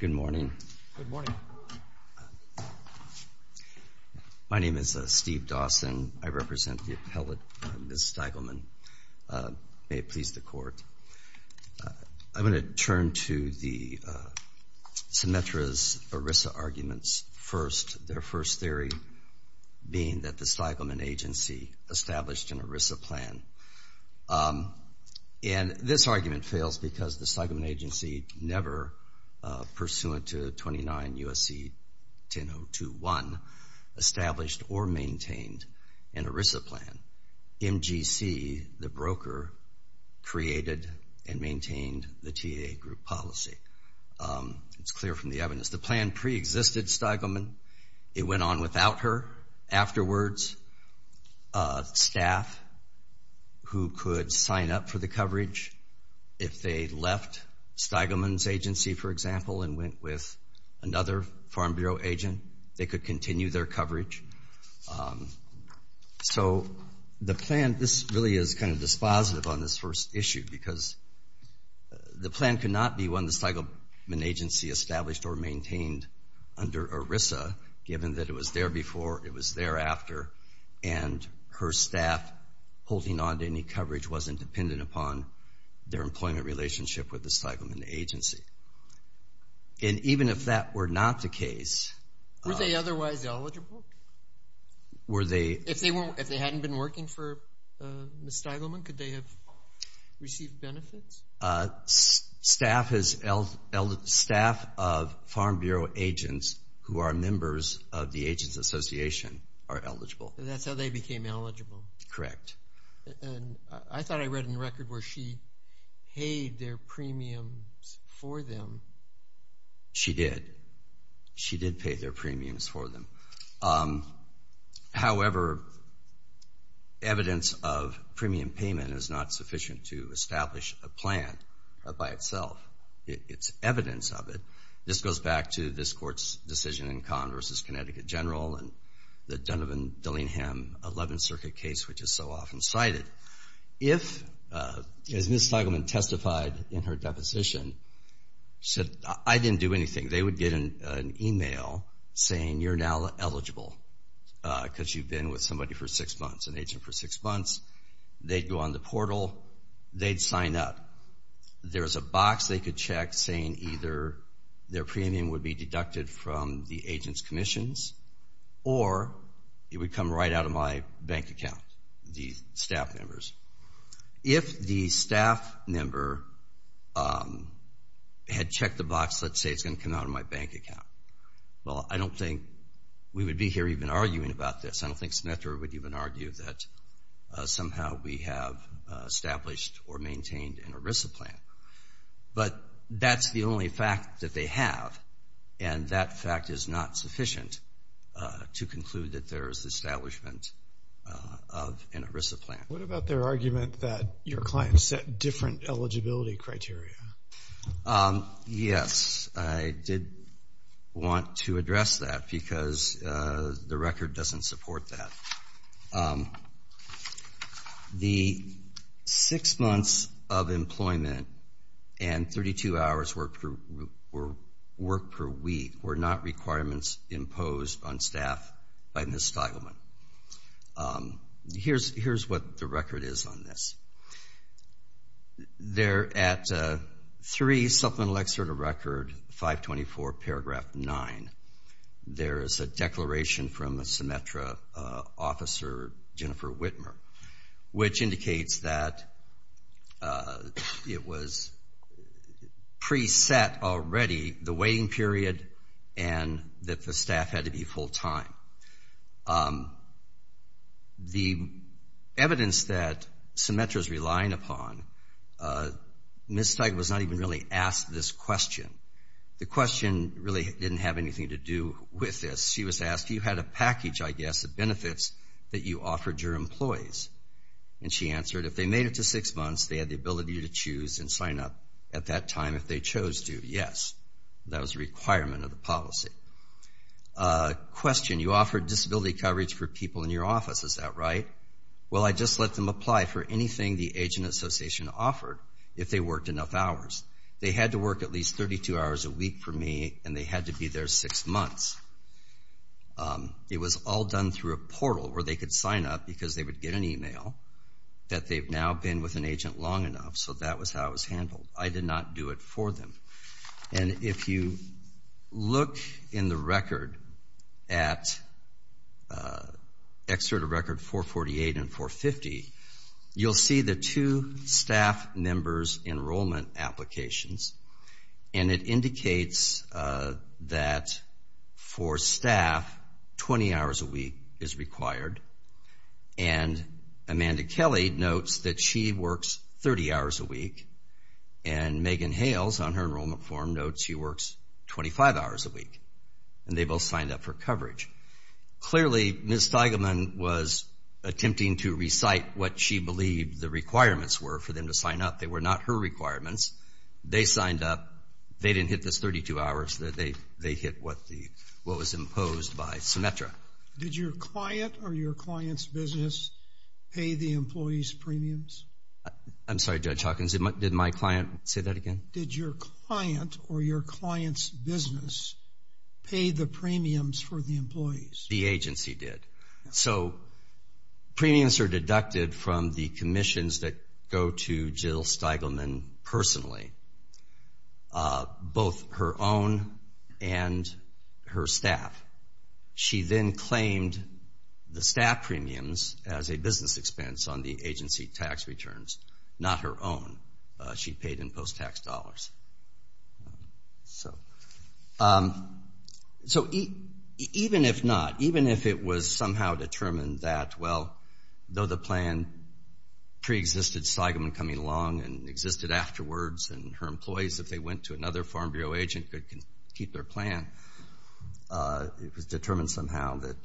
Good morning. My name is Steve Dawson. I represent the appellate, Ms. Steigelman. May it please the Court. I'm going to turn to the Symetra's ERISA arguments first. Their first theory being that the Steigelman agency established an ERISA plan, and this argument fails because the Steigelman agency never, pursuant to 29 U.S.C. 1002.1, established or maintained an ERISA plan. MGC, the broker, created and maintained the TA group policy. It's clear from the evidence. The plan pre-existed Steigelman. It went on without her. Afterwards, staff who could sign up for the coverage, if they left Steigelman's agency, for example, and went with another Farm Bureau agent, they could continue their coverage. So the plan, this really is kind of dispositive on this first issue because the plan could not be on the Steigelman agency established or maintained under ERISA, given that it was there before, it was there after, and her staff holding on to any coverage wasn't dependent upon their employment relationship with the Steigelman agency. And even if that were not the case... Were they otherwise eligible? Were they... If they hadn't been working for Ms. Steigelman, could they have received benefits? Staff of Farm Bureau agents who are members of the Agents Association are eligible. And that's how they became eligible? Correct. And I thought I read in the record where she paid their premiums for them. She did. She did pay their premiums for them. However, evidence of premium payment is not sufficient to establish a plan by itself. It's evidence of it. This goes back to this court's decision in Conn v. Connecticut General and the Dunn-Dillingham 11th Circuit case, which is so often cited. If, as Ms. Steigelman testified in her deposition, she said, I didn't do anything. They would get an email saying, you're now eligible because you've been with somebody for six months, an agent for six months. They'd go on the portal. They'd sign up. There's a box they could check saying either their premium would be deducted from the agents' commissions or it would come right out of my bank account, the staff members. If the staff member had checked the box, let's say it's going to come out of my bank account. Well, I don't think we would be here even arguing about this. I don't think Smith would even argue that somehow we have established or maintained an ERISA plan. But that's the only fact that they have. And that fact is not sufficient to conclude that there is the establishment of an ERISA plan. What about their argument that your client set different eligibility criteria? Yes, I did want to address that because the record doesn't support that. The six months of employment and 32 hours work per week were not requirements imposed on staff by Ms. Steigelman. Here's what the record is on this. There at 3 Supplemental Excerpt of Record 524, Paragraph 9, there is a declaration from a Symetra officer, Jennifer Whitmer, which indicates that it was pre-set already, the waiting period, and that the staff had to be full-time. The evidence that Symetra is relying upon, Ms. Steigelman was not even really asked this question. The question really didn't have anything to do with this. She was asked, you had a package, I guess, of benefits that you offered your employees. And she answered, if they made it to six months, they had the ability to choose and sign up at that time if they chose to. Yes, that was a requirement of the policy. Question, you offered disability coverage for people in your office, is that right? Well, I just let them apply for anything the Agent Association offered if they worked enough hours. They had to work at least 32 hours a week for me, and they had to be there six months. It was all done through a portal where they could sign up because they would get an email that they've now been with an agent long enough, so that was how it was handled. I did not do it for them. And if you look in the record at Excerpt of Record 448 and 450, you'll see the two staff members' enrollment applications. And it indicates that for staff, 20 hours a week is required. And Amanda Kelly notes that she works 30 hours a week. And Megan Hales, on her enrollment form, notes she works 25 hours a week. And they both signed up for coverage. Clearly, Ms. Steigelman was attempting to recite what she believed the requirements were for them to sign up. They were not her requirements. They signed up. They didn't hit this 32 hours. They hit what was imposed by Symetra. Did your client or your client's business pay the employees' premiums? I'm sorry, Judge Hawkins, did my client say that again? Did your client or your client's business pay the premiums for the employees? The agency did. So, premiums are deducted from the commissions that go to Jill Steigelman personally, both her own and her staff. She then claimed the staff premiums as a business expense on the agency tax returns, not her own. She paid in post-tax dollars. So, even if not, even if it was somehow determined that, well, though the plan preexisted Steigelman coming along and existed afterwards, and her employees, if they went to another Farm Bureau agent, could keep their plan, it was determined somehow that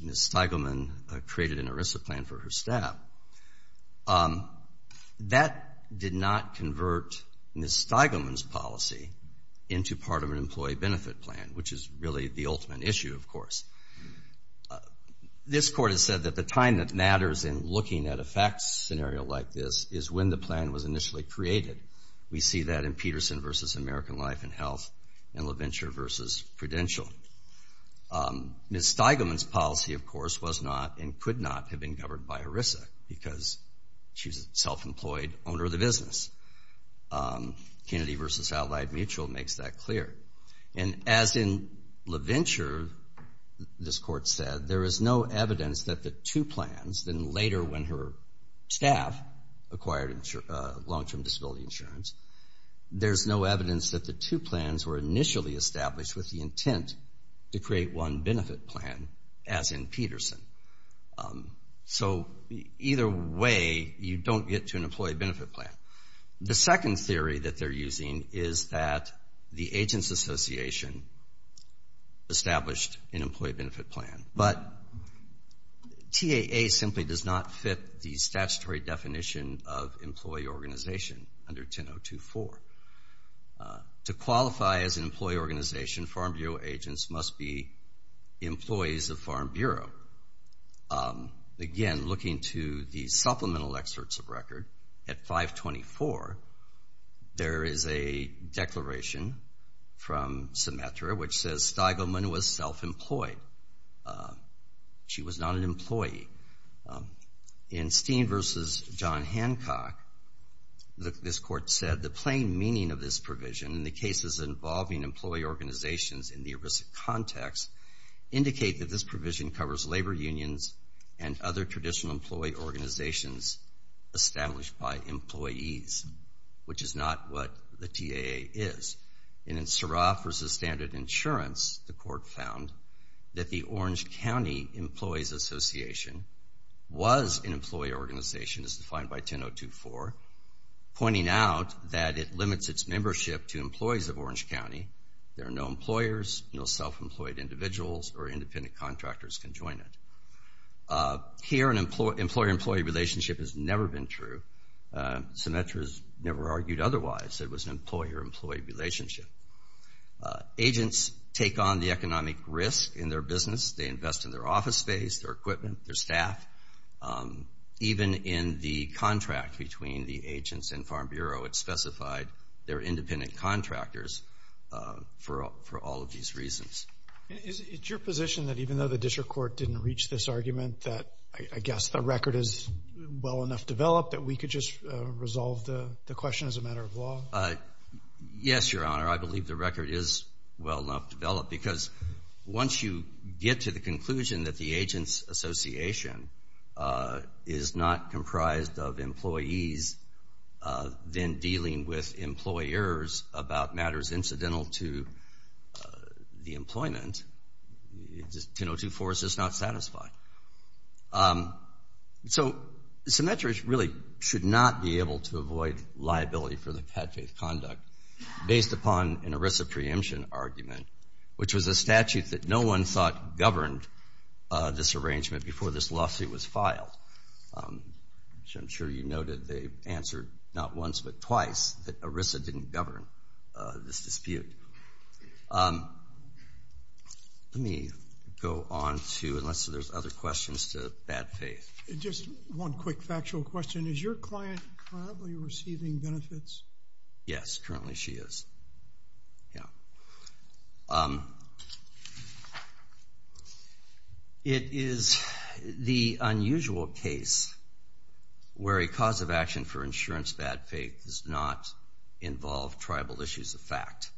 Ms. Steigelman created an ERISA plan for her staff. That did not convert Ms. Steigelman's policy into part of an employee benefit plan, which is really the ultimate issue, of course. This Court has said that the time that matters in looking at a fact scenario like this is when the plan was initially created. We see that in Peterson v. American Life and Health and LaVenture v. Prudential. Ms. Steigelman's policy, of course, was not and could not have been governed by ERISA because she's a self-employed owner of the business. Kennedy v. Allied Mutual makes that clear. And as in LaVenture, this Court said, there is no evidence that the two plans, then later when her staff acquired long-term disability insurance, there's no evidence that the two plans were initially established with the intent to create one benefit plan, as in Peterson. So either way, you don't get to an employee benefit plan. The second theory that they're using is that the Agents Association established an employee benefit plan. But TAA simply does not fit the statutory definition of employee organization under 10024. To qualify as an employee organization, Farm Bureau agents must be employees of Farm Bureau. Again, looking to the supplemental excerpts of record, at 524, there is a declaration from Symetra which says Steigelman was self-employed. She was not an employee. In Steen v. John Hancock, this Court said, the plain meaning of this provision in the cases involving employee organizations in the ERISA context indicate that this provision covers labor unions and other traditional employee organizations established by employees, which is not what the TAA is. And in Suroff v. Standard Insurance, the Court found that the Orange County Employees Association was an employee organization as defined by 10024, pointing out that it limits its membership to employees of Orange County. There are no employers, no self-employed individuals, or independent contractors can join it. Here, an employer-employee relationship has never been true. Symetra has never argued otherwise. It was an employer-employee relationship. Agents take on the economic risk in their business. They invest in their office space, their equipment, their staff. Even in the contract between the agents and Farm Bureau, it specified they're independent contractors for all of these reasons. Is it your position that even though the district court didn't reach this argument, that I guess the record is well enough developed that we could just resolve the question as a matter of law? Yes, Your Honor, I believe the record is well enough developed because once you get to the conclusion that the agents association is not comprised of employees, then dealing with employers about matters incidental to the employment, 1002-4 is just not satisfying. So Symetra really should not be able to avoid liability for the catfish conduct based upon an ERISA preemption argument, which was a statute that no one thought governed this arrangement before this lawsuit was filed. I'm sure you noted they answered not once but twice that ERISA didn't govern this dispute. Let me go on to, unless there's other questions to Bad Faith. Just one quick factual question. Is your client currently receiving benefits? Yes, currently she is, yeah. It is the unusual case where a cause of action for insurance bad faith does not involve tribal issues of fact.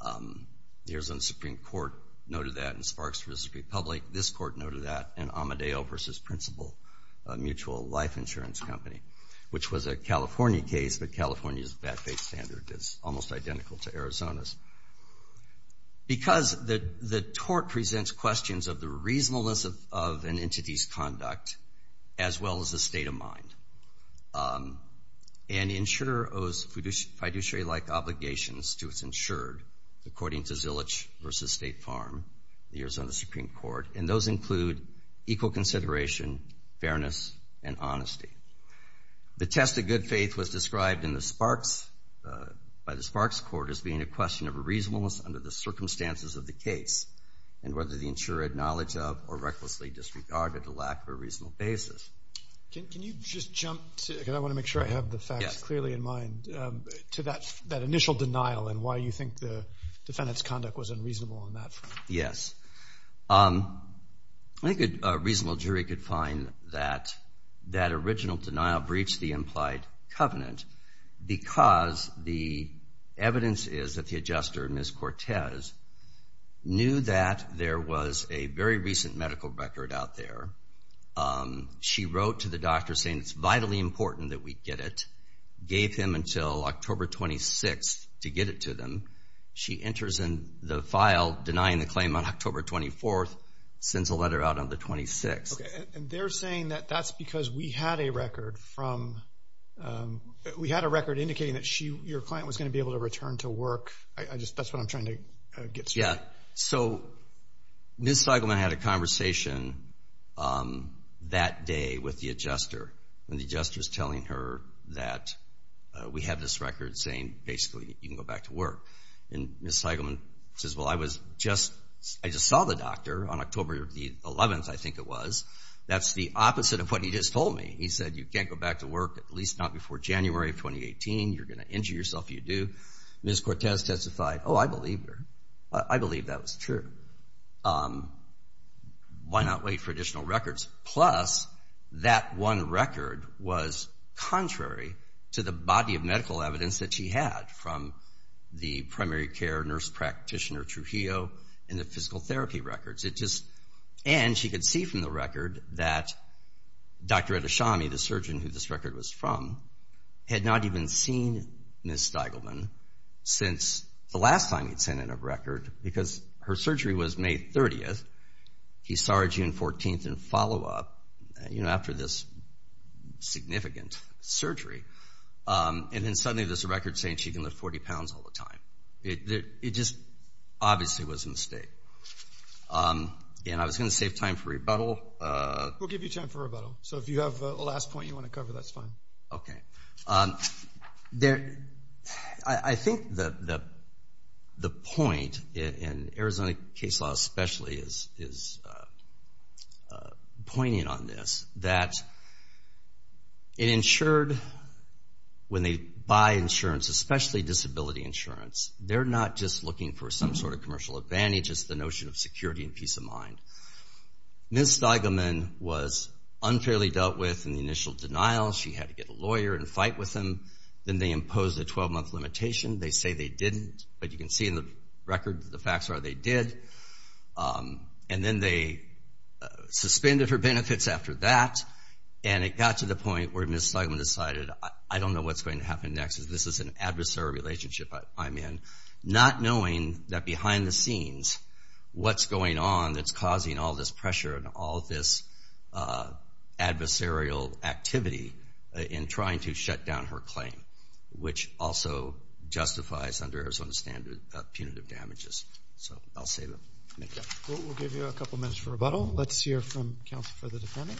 The Arizona Supreme Court noted that in Sparks vs. Republic. This court noted that in Amadeo vs. Principal, a mutual life insurance company, which was a California case, but California's bad faith standard is almost identical to Arizona's. Because the tort presents questions of the reasonableness of an entity's conduct as well as the state of mind. An insurer owes fiduciary-like obligations to its insured according to Zillich vs. State Farm, the Arizona Supreme Court, and those include equal consideration, fairness, and honesty. The test of good faith was described by the Sparks Court as being a question of reasonableness under the circumstances of the case and whether the insurer had knowledge of or recklessly disregarded the lack of a reasonable basis. Can you just jump to, because I want to make sure I have the facts clearly in mind, to that initial denial and why you think the defendant's conduct was unreasonable on that front. Yes. I think a reasonable jury could find that that original denial breached the implied covenant because the evidence is that the adjuster, Ms. Cortez, knew that there was a very recent medical record out there. She wrote to the doctor saying it's vitally important that we get it, gave him until October 26th to get it to them. She enters in the file denying the claim on October 24th, sends a letter out on the 26th. Okay, and they're saying that that's because we had a record from um, we had a record indicating that she, your client, was going to be able to return to work. I just, that's what I'm trying to get through. Yeah, so Ms. Steigelman had a conversation that day with the adjuster and the adjuster is telling her that we have this record saying basically you can go back to work and Ms. Steigelman says, well, I was just, I just saw the doctor on October the 11th, I think it was. That's the opposite of what he just told me. He said you can't go back to work, at least not before January of 2018. You're going to injure yourself if you do. Ms. Cortez testified, oh, I believe her. I believe that was true. Why not wait for additional records? Plus, that one record was contrary to the body of medical evidence that she had from the primary care nurse practitioner Trujillo and the physical therapy records. It just, and she could see from the record that Dr. Edashami, the surgeon who this record was from, had not even seen Ms. Steigelman since the last time he'd sent in a record because her surgery was May 30th. He saw her June 14th in follow-up after this significant surgery and then suddenly there's a record saying she can lift 40 pounds all the time. It just obviously was a mistake and I was going to save time for rebuttal. We'll give you time for rebuttal. So if you have a last point you want to cover, that's fine. Okay. I think the point in Arizona case law especially is pointing on this, that when they buy insurance, especially disability insurance, they're not just looking for some sort of commercial advantage. It's the notion of security and peace of mind. Ms. Steigelman was unfairly dealt with in the initial denial. She had to get a lawyer and fight with them. Then they imposed a 12-month limitation. They say they didn't, but you can see in the record that the facts are they did. And then they suspended her benefits after that and it got to the point where Ms. Steigelman decided, I don't know what's going to happen next because this is an adversary relationship I'm in, not knowing that behind the scenes what's going on that's causing all this pressure and all this adversarial activity in trying to shut down her claim, which also justifies, under Arizona standards, punitive damages. So I'll save it. We'll give you a couple minutes for rebuttal. Let's hear from counsel for the defendant.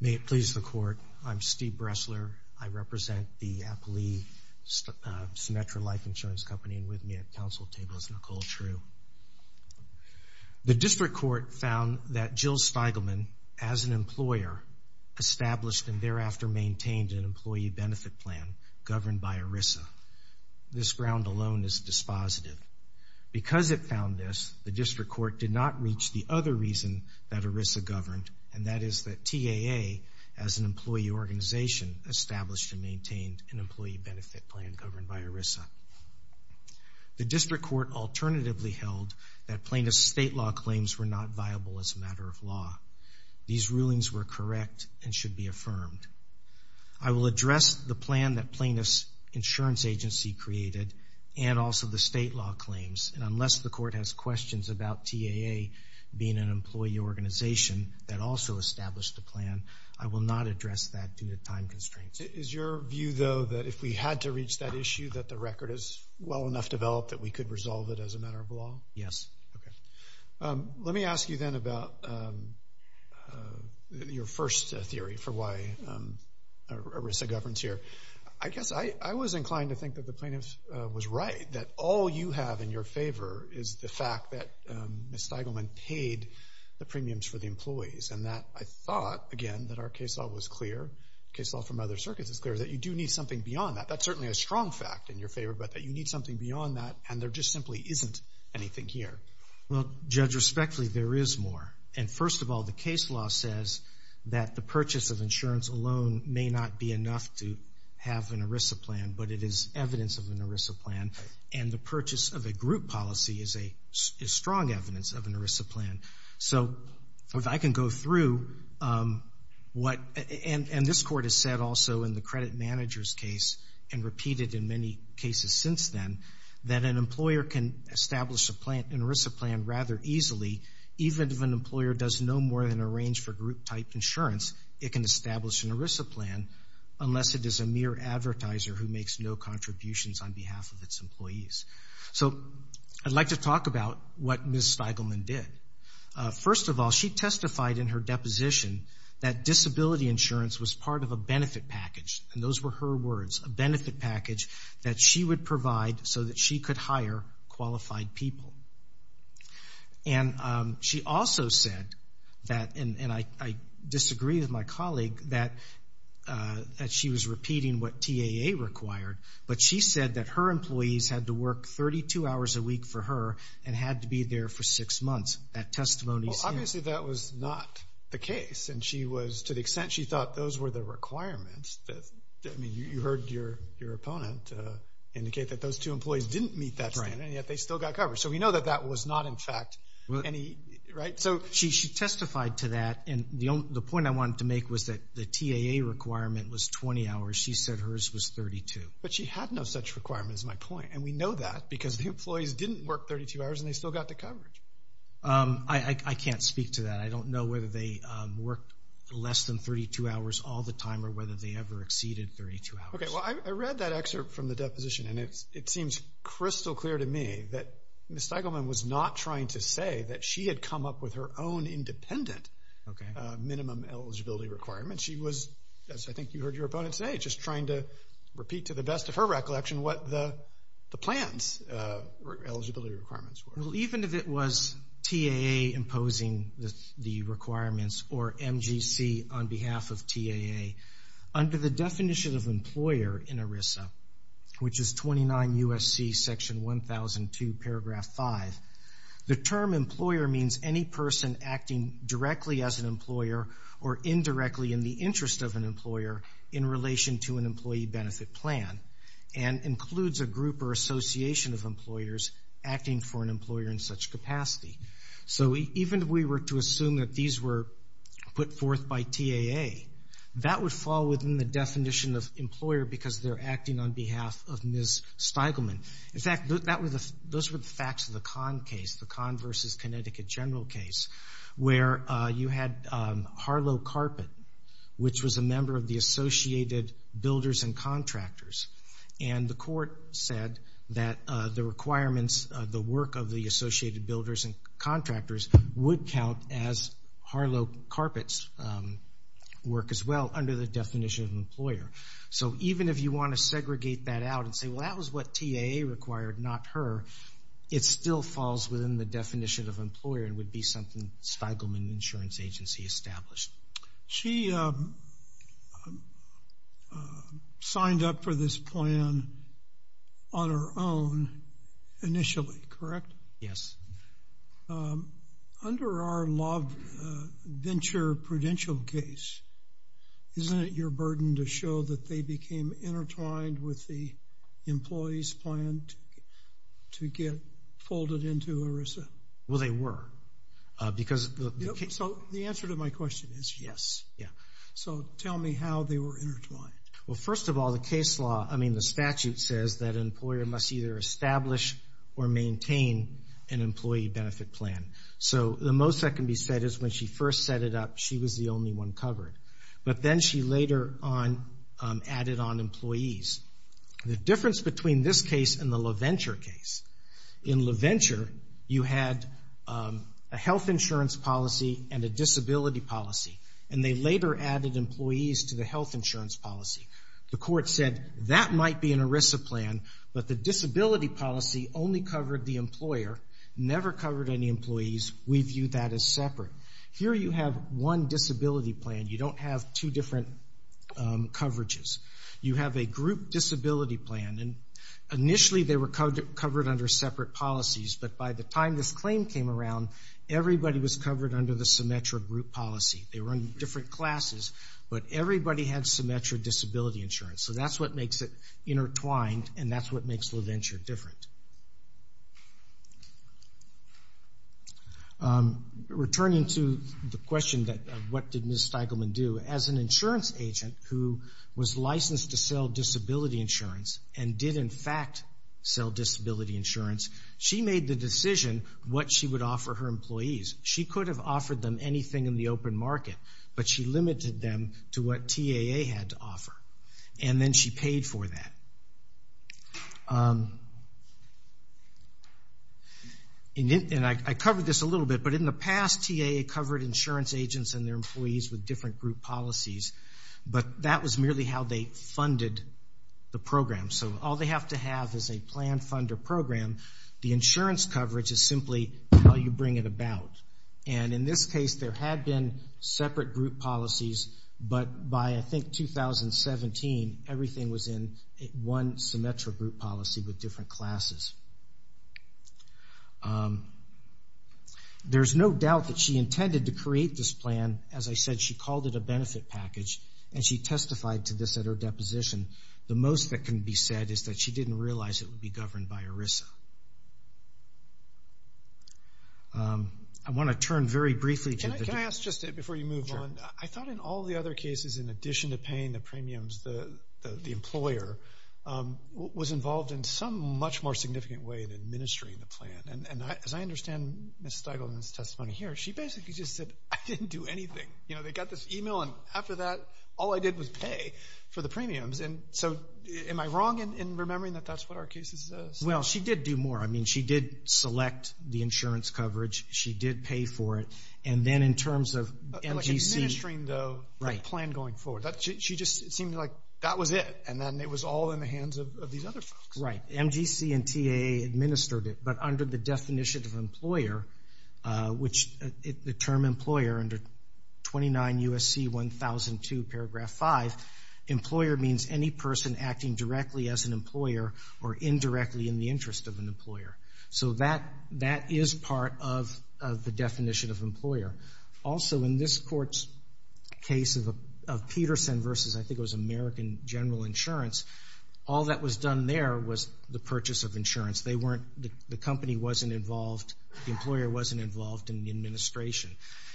May it please the court. I'm Steve Bressler. I represent the Appalee Symmetra Life Insurance Company and with me at counsel table is Nicole True. The district court found that Jill Steigelman, as an employer, established and thereafter maintained an employee benefit plan governed by ERISA. This ground alone is dispositive. Because it found this, the district court did not reach the other reason that ERISA governed, and that is that TAA, as an employee organization, established and maintained an employee benefit plan governed by ERISA. The district court alternatively held that plaintiff's state law claims were not viable as a matter of law. These rulings were correct and should be affirmed. I will address the plan that plaintiff's insurance agency created and also the state law claims, and unless the court has questions about TAA being an employee organization that also established a plan, I will not address that due to time constraints. Is your view, though, that if we had to reach that issue that the record is well enough developed that we could resolve it as a matter of law? Yes. Okay. Let me ask you then about your first theory for why ERISA governs here. I guess I was inclined to think that the plaintiff was right, that all you have in your favor is the fact that Ms. Steigelman paid the premiums for the employees, and that I thought, again, that our case law was clear, case law from other circuits is clear, that you do need something beyond that. That's certainly a strong fact in your favor, but that you need something beyond that, and there just simply isn't anything here. Well, Judge, respectfully, there is more. And first of all, the case law says that the purchase of insurance alone may not be enough to have an ERISA plan, but it is evidence of an ERISA plan, and the purchase of a group policy is strong evidence of an ERISA plan. So if I can go through what... And this Court has said also in the credit manager's case and repeated in many cases since then, that an employer can establish an ERISA plan rather easily, even if an employer does no more than arrange for group-type insurance, it can establish an ERISA plan unless it is a mere advertiser who makes no contributions on behalf of its employees. So I'd like to talk about what Ms. Steigelman did. First of all, she testified in her deposition that disability insurance was part of a benefit package, and those were her words, a benefit package that she would provide so that she could hire qualified people. And she also said that, and I disagree with my colleague, that she was repeating what TAA required, but she said that her employees had to work 32 hours a week for her and had to be there for six months. That testimony's here. Well, obviously that was not the case, and she was, to the extent she thought those were the requirements, I mean, you heard your opponent indicate that those two employees didn't meet that standard, and yet they still got covered. So we know that that was not, in fact, any, right? So she testified to that, and the point I wanted to make was that the TAA requirement was 20 hours. She said hers was 32. But she had no such requirements, is my point, and we know that because the employees didn't work 32 hours and they still got the coverage. I can't speak to that. I don't know whether they worked less than 32 hours all the time or whether they ever exceeded 32 hours. Okay, well, I read that excerpt from the deposition, and it seems crystal clear to me that Ms. Steigelman was not trying to say that she had come up with her own independent minimum eligibility requirement. She was, as I think you heard your opponent say, just trying to repeat to the best of her recollection what the plan's eligibility requirements were. Well, even if it was TAA imposing the requirements or MGC on behalf of TAA, under the definition of employer in ERISA, which is 29 U.S.C. section 1002 paragraph 5, the term employer means any person acting directly as an employer or indirectly in the interest of an employer in relation to an employee benefit plan and includes a group or association of employers acting for an employer in such capacity. So even if we were to assume that would fall within the definition of employer because they're acting on behalf of Ms. Steigelman. In fact, those were the facts of the Kahn case, the Kahn versus Connecticut General case, where you had Harlow Carpet, which was a member of the Associated Builders and Contractors. And the court said that the requirements, the work of the Associated Builders and Contractors would count as Harlow Carpet's work as well under the definition of employer. So even if you want to segregate that out and say, well, that was what TAA required, not her, it still falls within the definition of employer and would be something Steigelman Insurance Agency established. She signed up for this plan on her own initially, correct? Yes. Under our Love Venture Prudential case, isn't it your burden to show that they became intertwined with the employee's plan to get folded into ERISA? Well, they were because... So the answer to my question is yes. Yeah. So tell me how they were intertwined. Well, first of all, the case law, I mean, the statute says that an employer must either establish or maintain an employee benefit plan. So the most that can be said is when she first set it up, she was the only one covered. But then she later on added on employees. The difference between this case and the Love Venture case, in Love Venture, you had a health insurance policy and a disability policy, and they later added employees to the health insurance policy. The court said that might be an ERISA plan, but the disability policy only covered the employer, never covered any employees. We view that as separate. Here you have one disability plan. You don't have two different coverages. You have a group disability plan, and initially they were covered under separate policies, but by the time this claim came around, everybody was covered under the symmetric group policy. They were in different classes, but everybody had symmetric disability insurance. So that's what makes it intertwined, and that's what makes Love Venture different. Returning to the question of what did Ms. Steigelman do, as an insurance agent who was licensed to sell disability insurance and did in fact sell disability insurance, she made the decision what she would offer her employees. She could have offered them anything in the open market, but she limited them to what TAA had to offer, and then she paid for that. And I covered this a little bit, but in the past, TAA covered insurance agents and their employees with different group policies, but that was merely how they funded the program. So all they have to have is a plan, fund, or program. The insurance coverage is simply how you bring it about, and in this case, there had been separate group policies, but by, I think, 2017, everything was in, one symmetric group policy with different classes. There's no doubt that she intended to create this plan. As I said, she called it a benefit package, and she testified to this at her deposition. The most that can be said is that she didn't realize it would be governed by ERISA. I want to turn very briefly to the- Can I ask just before you move on? I thought in all the other cases, in addition to paying the premiums, the employer was involved in some much more significant way in administering the plan. And as I understand Ms. Steigelman's testimony here, she basically just said, I didn't do anything. They got this email, and after that, all I did was pay for the premiums. And so am I wrong in remembering that that's what our case is? Well, she did do more. I mean, she did select the insurance coverage. She did pay for it. And then in terms of NGC- She just seemed like that was it, and then it was all in the hands of these other folks. Right. NGC and TAA administered it, but under the definition of employer, which the term employer, under 29 U.S.C. 1002, paragraph 5, employer means any person acting directly as an employer or indirectly in the interest of an employer. So that is part of the definition of employer. Also, in this court's case of Peterson versus, I think it was American General Insurance, all that was done there was the purchase of insurance. They weren't, the company wasn't involved, the employer wasn't involved in the administration.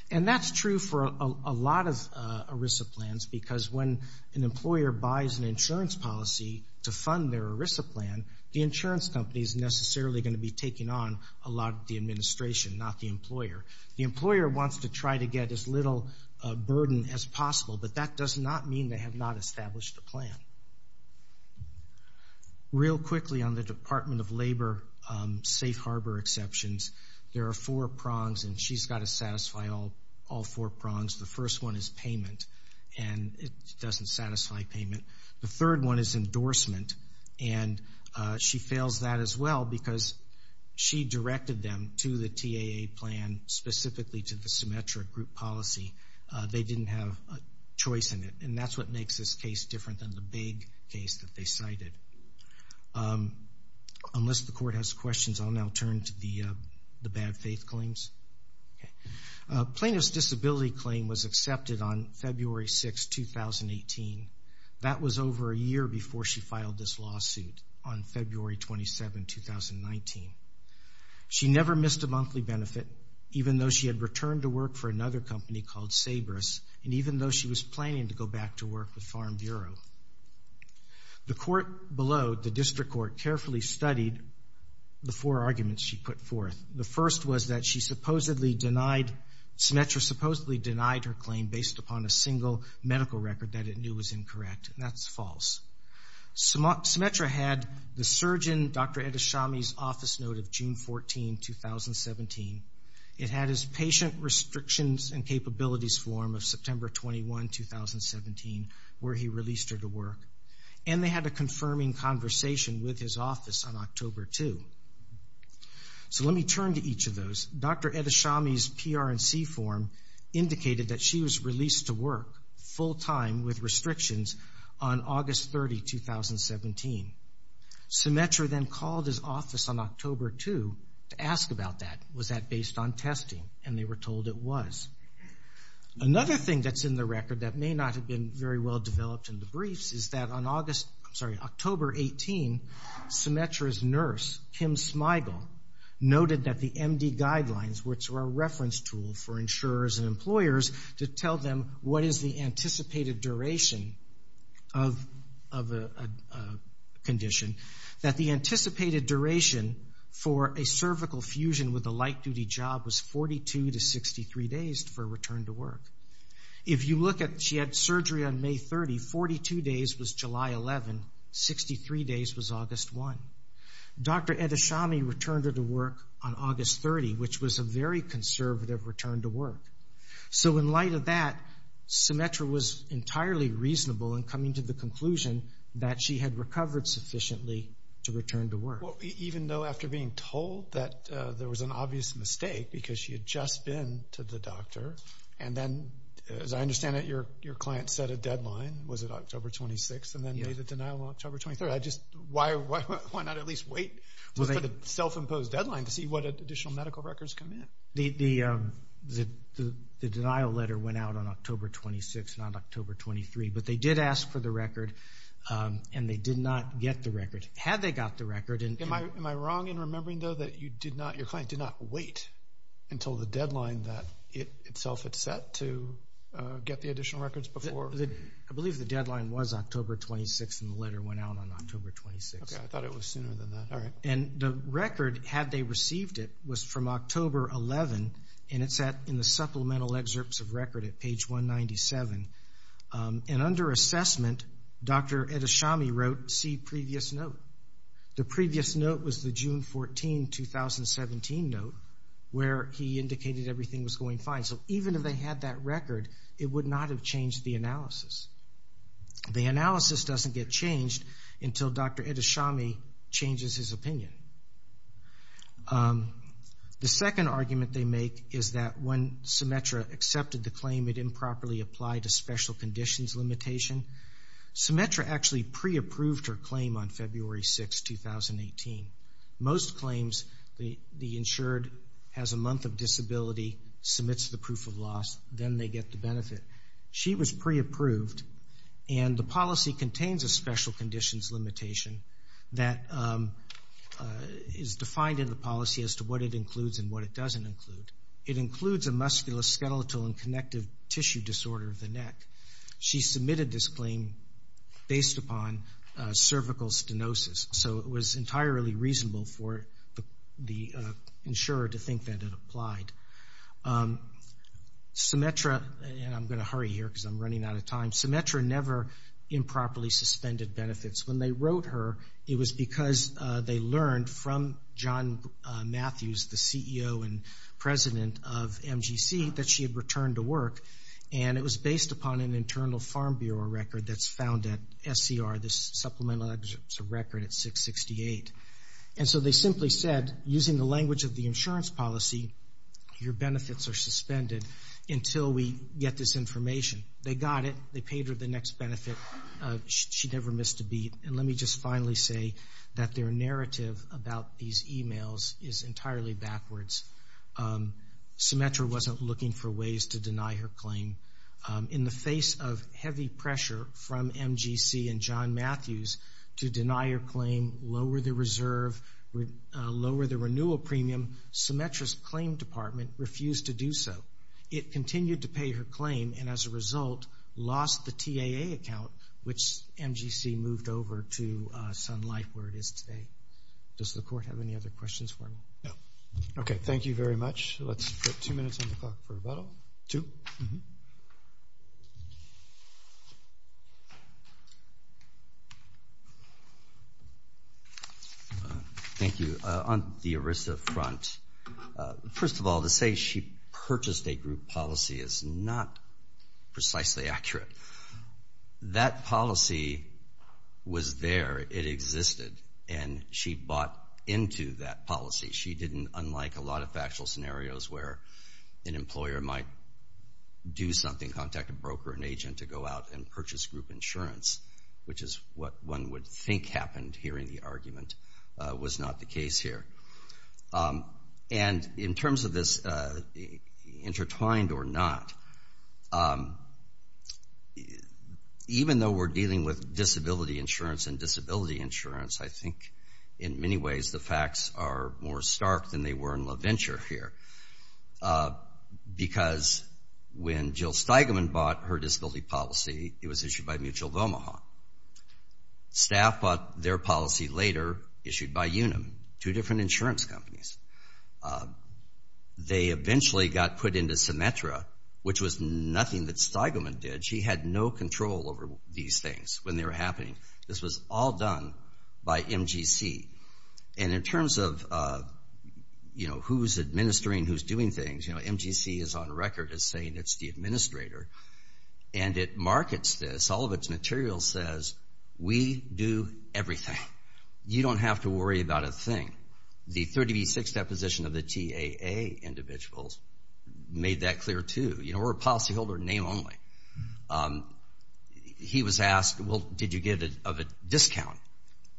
And that's true for a lot of ERISA plans because when an employer buys an insurance policy to fund their ERISA plan, the insurance company's necessarily gonna be taking on a lot of the administration, not the employer. The employer wants to try to get as little burden as possible, but that does not mean they have not established a plan. Real quickly on the Department of Labor safe harbor exceptions, there are four prongs, and she's gotta satisfy all four prongs. The first one is payment, and it doesn't satisfy payment. The third one is endorsement, and she fails that as well because she directed them to the TAA plan specifically to the symmetric group policy. They didn't have a choice in it, and that's what makes this case different than the big case that they cited. Unless the court has questions, I'll now turn to the bad faith claims. Plaintiff's disability claim was accepted on February 6, 2018. That was over a year before she filed this lawsuit on February 27, 2019. She never missed a monthly benefit, even though she had returned to work for another company called Sabrous, and even though she was planning to go back to work with Farm Bureau. The court below, the district court, carefully studied the four arguments she put forth. The first was that she supposedly denied, Symetra supposedly denied her claim based upon a single medical record that it knew was incorrect, and that's false. Symetra had the surgeon, Dr. Edashami's office note of June 14, 2017. It had his patient restrictions and capabilities form of September 21, 2017, where he released her to work, and they had a confirming conversation with his office on October 2. So let me turn to each of those. Dr. Edashami's PRNC form indicated that she was released to work full time with restrictions on August 30, 2017. Symetra then called his office on October 2 to ask about that. Was that based on testing? And they were told it was. Another thing that's in the record that may not have been very well developed in the briefs is that on August, I'm sorry, October 18, Symetra's nurse, Kim Smigel, noted that the MD guidelines, which were a reference tool for insurers and employers, to tell them what is the anticipated duration of a condition, that the anticipated duration for a cervical fusion with a light-duty job was 42 to 63 days for return to work. If you look at, she had surgery on May 30, 42 days was July 11, 63 days was August 1. Dr. Edashami returned her to work on August 30, which was a very conservative return to work. So in light of that, Symetra was entirely reasonable in coming to the conclusion that she had recovered sufficiently to return to work. Well, even though after being told that there was an obvious mistake because she had just been to the doctor, and then, as I understand it, your client set a deadline, was it October 26, and then made the denial on October 23. I just, why not at least wait for the self-imposed deadline to see what additional medical records come in? The denial letter went out on October 26, not October 23, but they did ask for the record, and they did not get the record. Had they got the record, and- Am I wrong in remembering, though, that you did not, your client did not wait until the deadline that it itself had set to get the additional records before? I believe the deadline was October 26, and the letter went out on October 26. Okay, I thought it was sooner than that. All right. And the record, had they received it, was from October 11, and it's in the supplemental excerpts of record at page 197, and under assessment, Dr. Edashami wrote, see previous note. The previous note was the June 14, 2017 note where he indicated everything was going fine. So even if they had that record, it would not have changed the analysis. The analysis doesn't get changed until Dr. Edashami changes his opinion. The second argument they make is that when Symetra accepted the claim it improperly applied a special conditions limitation. Symetra actually pre-approved her claim on February 6, 2018. Most claims, the insured has a month of disability, submits the proof of loss, then they get the benefit. She was pre-approved, and the policy contains a special conditions limitation that is defined in the policy as to what it includes and what it doesn't include. It includes a musculoskeletal and connective tissue disorder of the neck. She submitted this claim based upon cervical stenosis. So it was entirely reasonable for the insurer to think that it applied. Symetra, and I'm going to hurry here because I'm running out of time, Symetra never improperly suspended benefits. When they wrote her, it was because they learned from John Matthews, the CEO and president of MGC, that she had returned to work, and it was based upon an internal Farm Bureau record that's found at SCR, this supplemental record at 668. And so they simply said, using the language of the insurance policy, your benefits are suspended until we get this information. They got it, they paid her the next benefit. She never missed a beat. And let me just finally say that their narrative about these emails is entirely backwards. Symetra wasn't looking for ways to deny her claim. In the face of heavy pressure from MGC and John Matthews to deny her claim, lower the reserve, lower the renewal premium, Symetra's claim department refused to do so. It continued to pay her claim, and as a result, lost the TAA account, which MGC moved over to Sun Life where it is today. Does the court have any other questions for me? No. Okay, thank you very much. Let's put two minutes on the clock for rebuttal. Two? Thank you. On the ERISA front, first of all, to say she purchased a group policy is not precisely accurate. That policy was there, it existed, and she bought into that policy. She didn't, unlike a lot of factual scenarios where an employer might do something, contact a broker, an agent, to go out and purchase group insurance, which is what one would think happened hearing the argument, was not the case here. And in terms of this intertwined or not, even though we're dealing with disability insurance and disability insurance, I think in many ways the facts are more stark than they were in LaVenture here. Because when Jill Steigman bought her disability policy, it was issued by Mutual of Omaha. Staff bought their policy later, issued by Unum, two different insurance companies. They eventually got put into Symetra, which was nothing that Steigman did. She had no control over these things when they were happening. This was all done by MGC. And in terms of who's administering, who's doing things, MGC is on record as saying it's the administrator. And it markets this. All of its material says, we do everything. You don't have to worry about a thing. The 30B6 deposition of the TAA individuals made that clear too. We're a policyholder name only. He was asked, well, did you get a discount?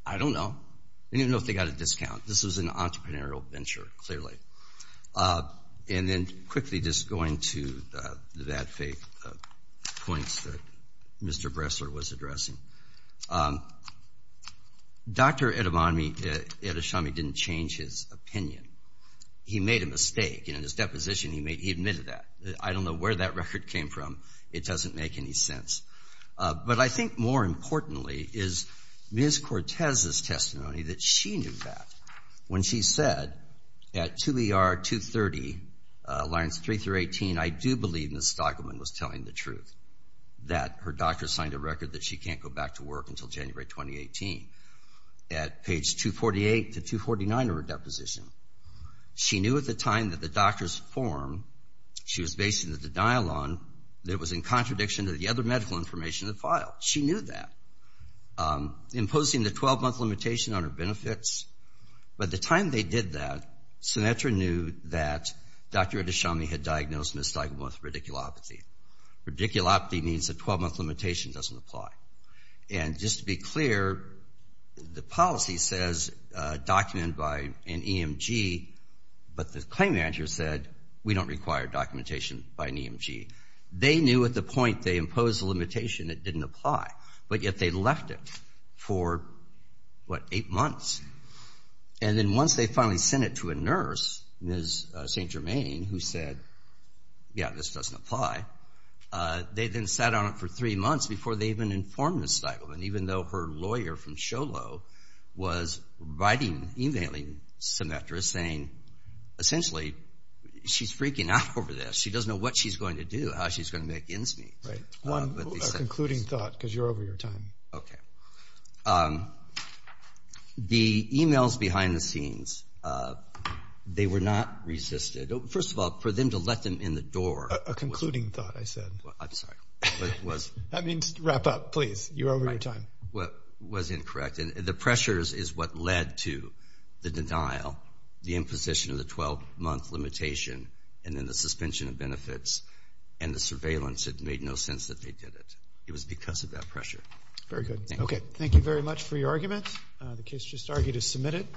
I don't know. I don't even know if they got a discount. This was an entrepreneurial venture, clearly. And then quickly just going to the bad faith points that Mr. Bressler was addressing. Dr. Edashami didn't change his opinion. He made a mistake. And in his deposition, he admitted that. I don't know where that record came from. It doesn't make any sense. But I think more importantly is Ms. Cortez's testimony that she knew that when she said at 2ER230, lines 3 through 18, I do believe Ms. Stockelman was telling the truth, that her doctor signed a record that she can't go back to work until January 2018. At page 248 to 249 of her deposition, she knew at the time that the doctor's form, she was basing it at the dialogue, that was in contradiction to the other medical information in the file. She knew that. Imposing the 12-month limitation on her benefits. By the time they did that, Sinetra knew that Dr. Edashami had diagnosed Ms. Stockelman with radiculopathy. Radiculopathy means a 12-month limitation doesn't apply. And just to be clear, the policy says document by an EMG, but the claim manager said we don't require documentation by an EMG. They knew at the point they imposed the limitation, it didn't apply, but yet they left it for, what, eight months. And then once they finally sent it to a nurse, Ms. St. Germain, who said, yeah, this doesn't apply, they then sat on it for three months before they even informed Ms. Stockelman, even though her lawyer from SHOLO was writing, emailing Sinetra saying, essentially, she's freaking out over this. She doesn't know what she's going to do, how she's going to make ends meet. Right, one concluding thought, because you're over your time. Okay. The emails behind the scenes, they were not resisted. First of all, for them to let them in the door. A concluding thought, I said. I'm sorry. That means wrap up, please. You're over your time. What was incorrect, and the pressures is what led to the denial, the imposition of the 12-month limitation, and then the suspension of benefits. And the surveillance, it made no sense that they did it. It was because of that pressure. Very good. Okay, thank you very much for your argument. The case just argued is submitted.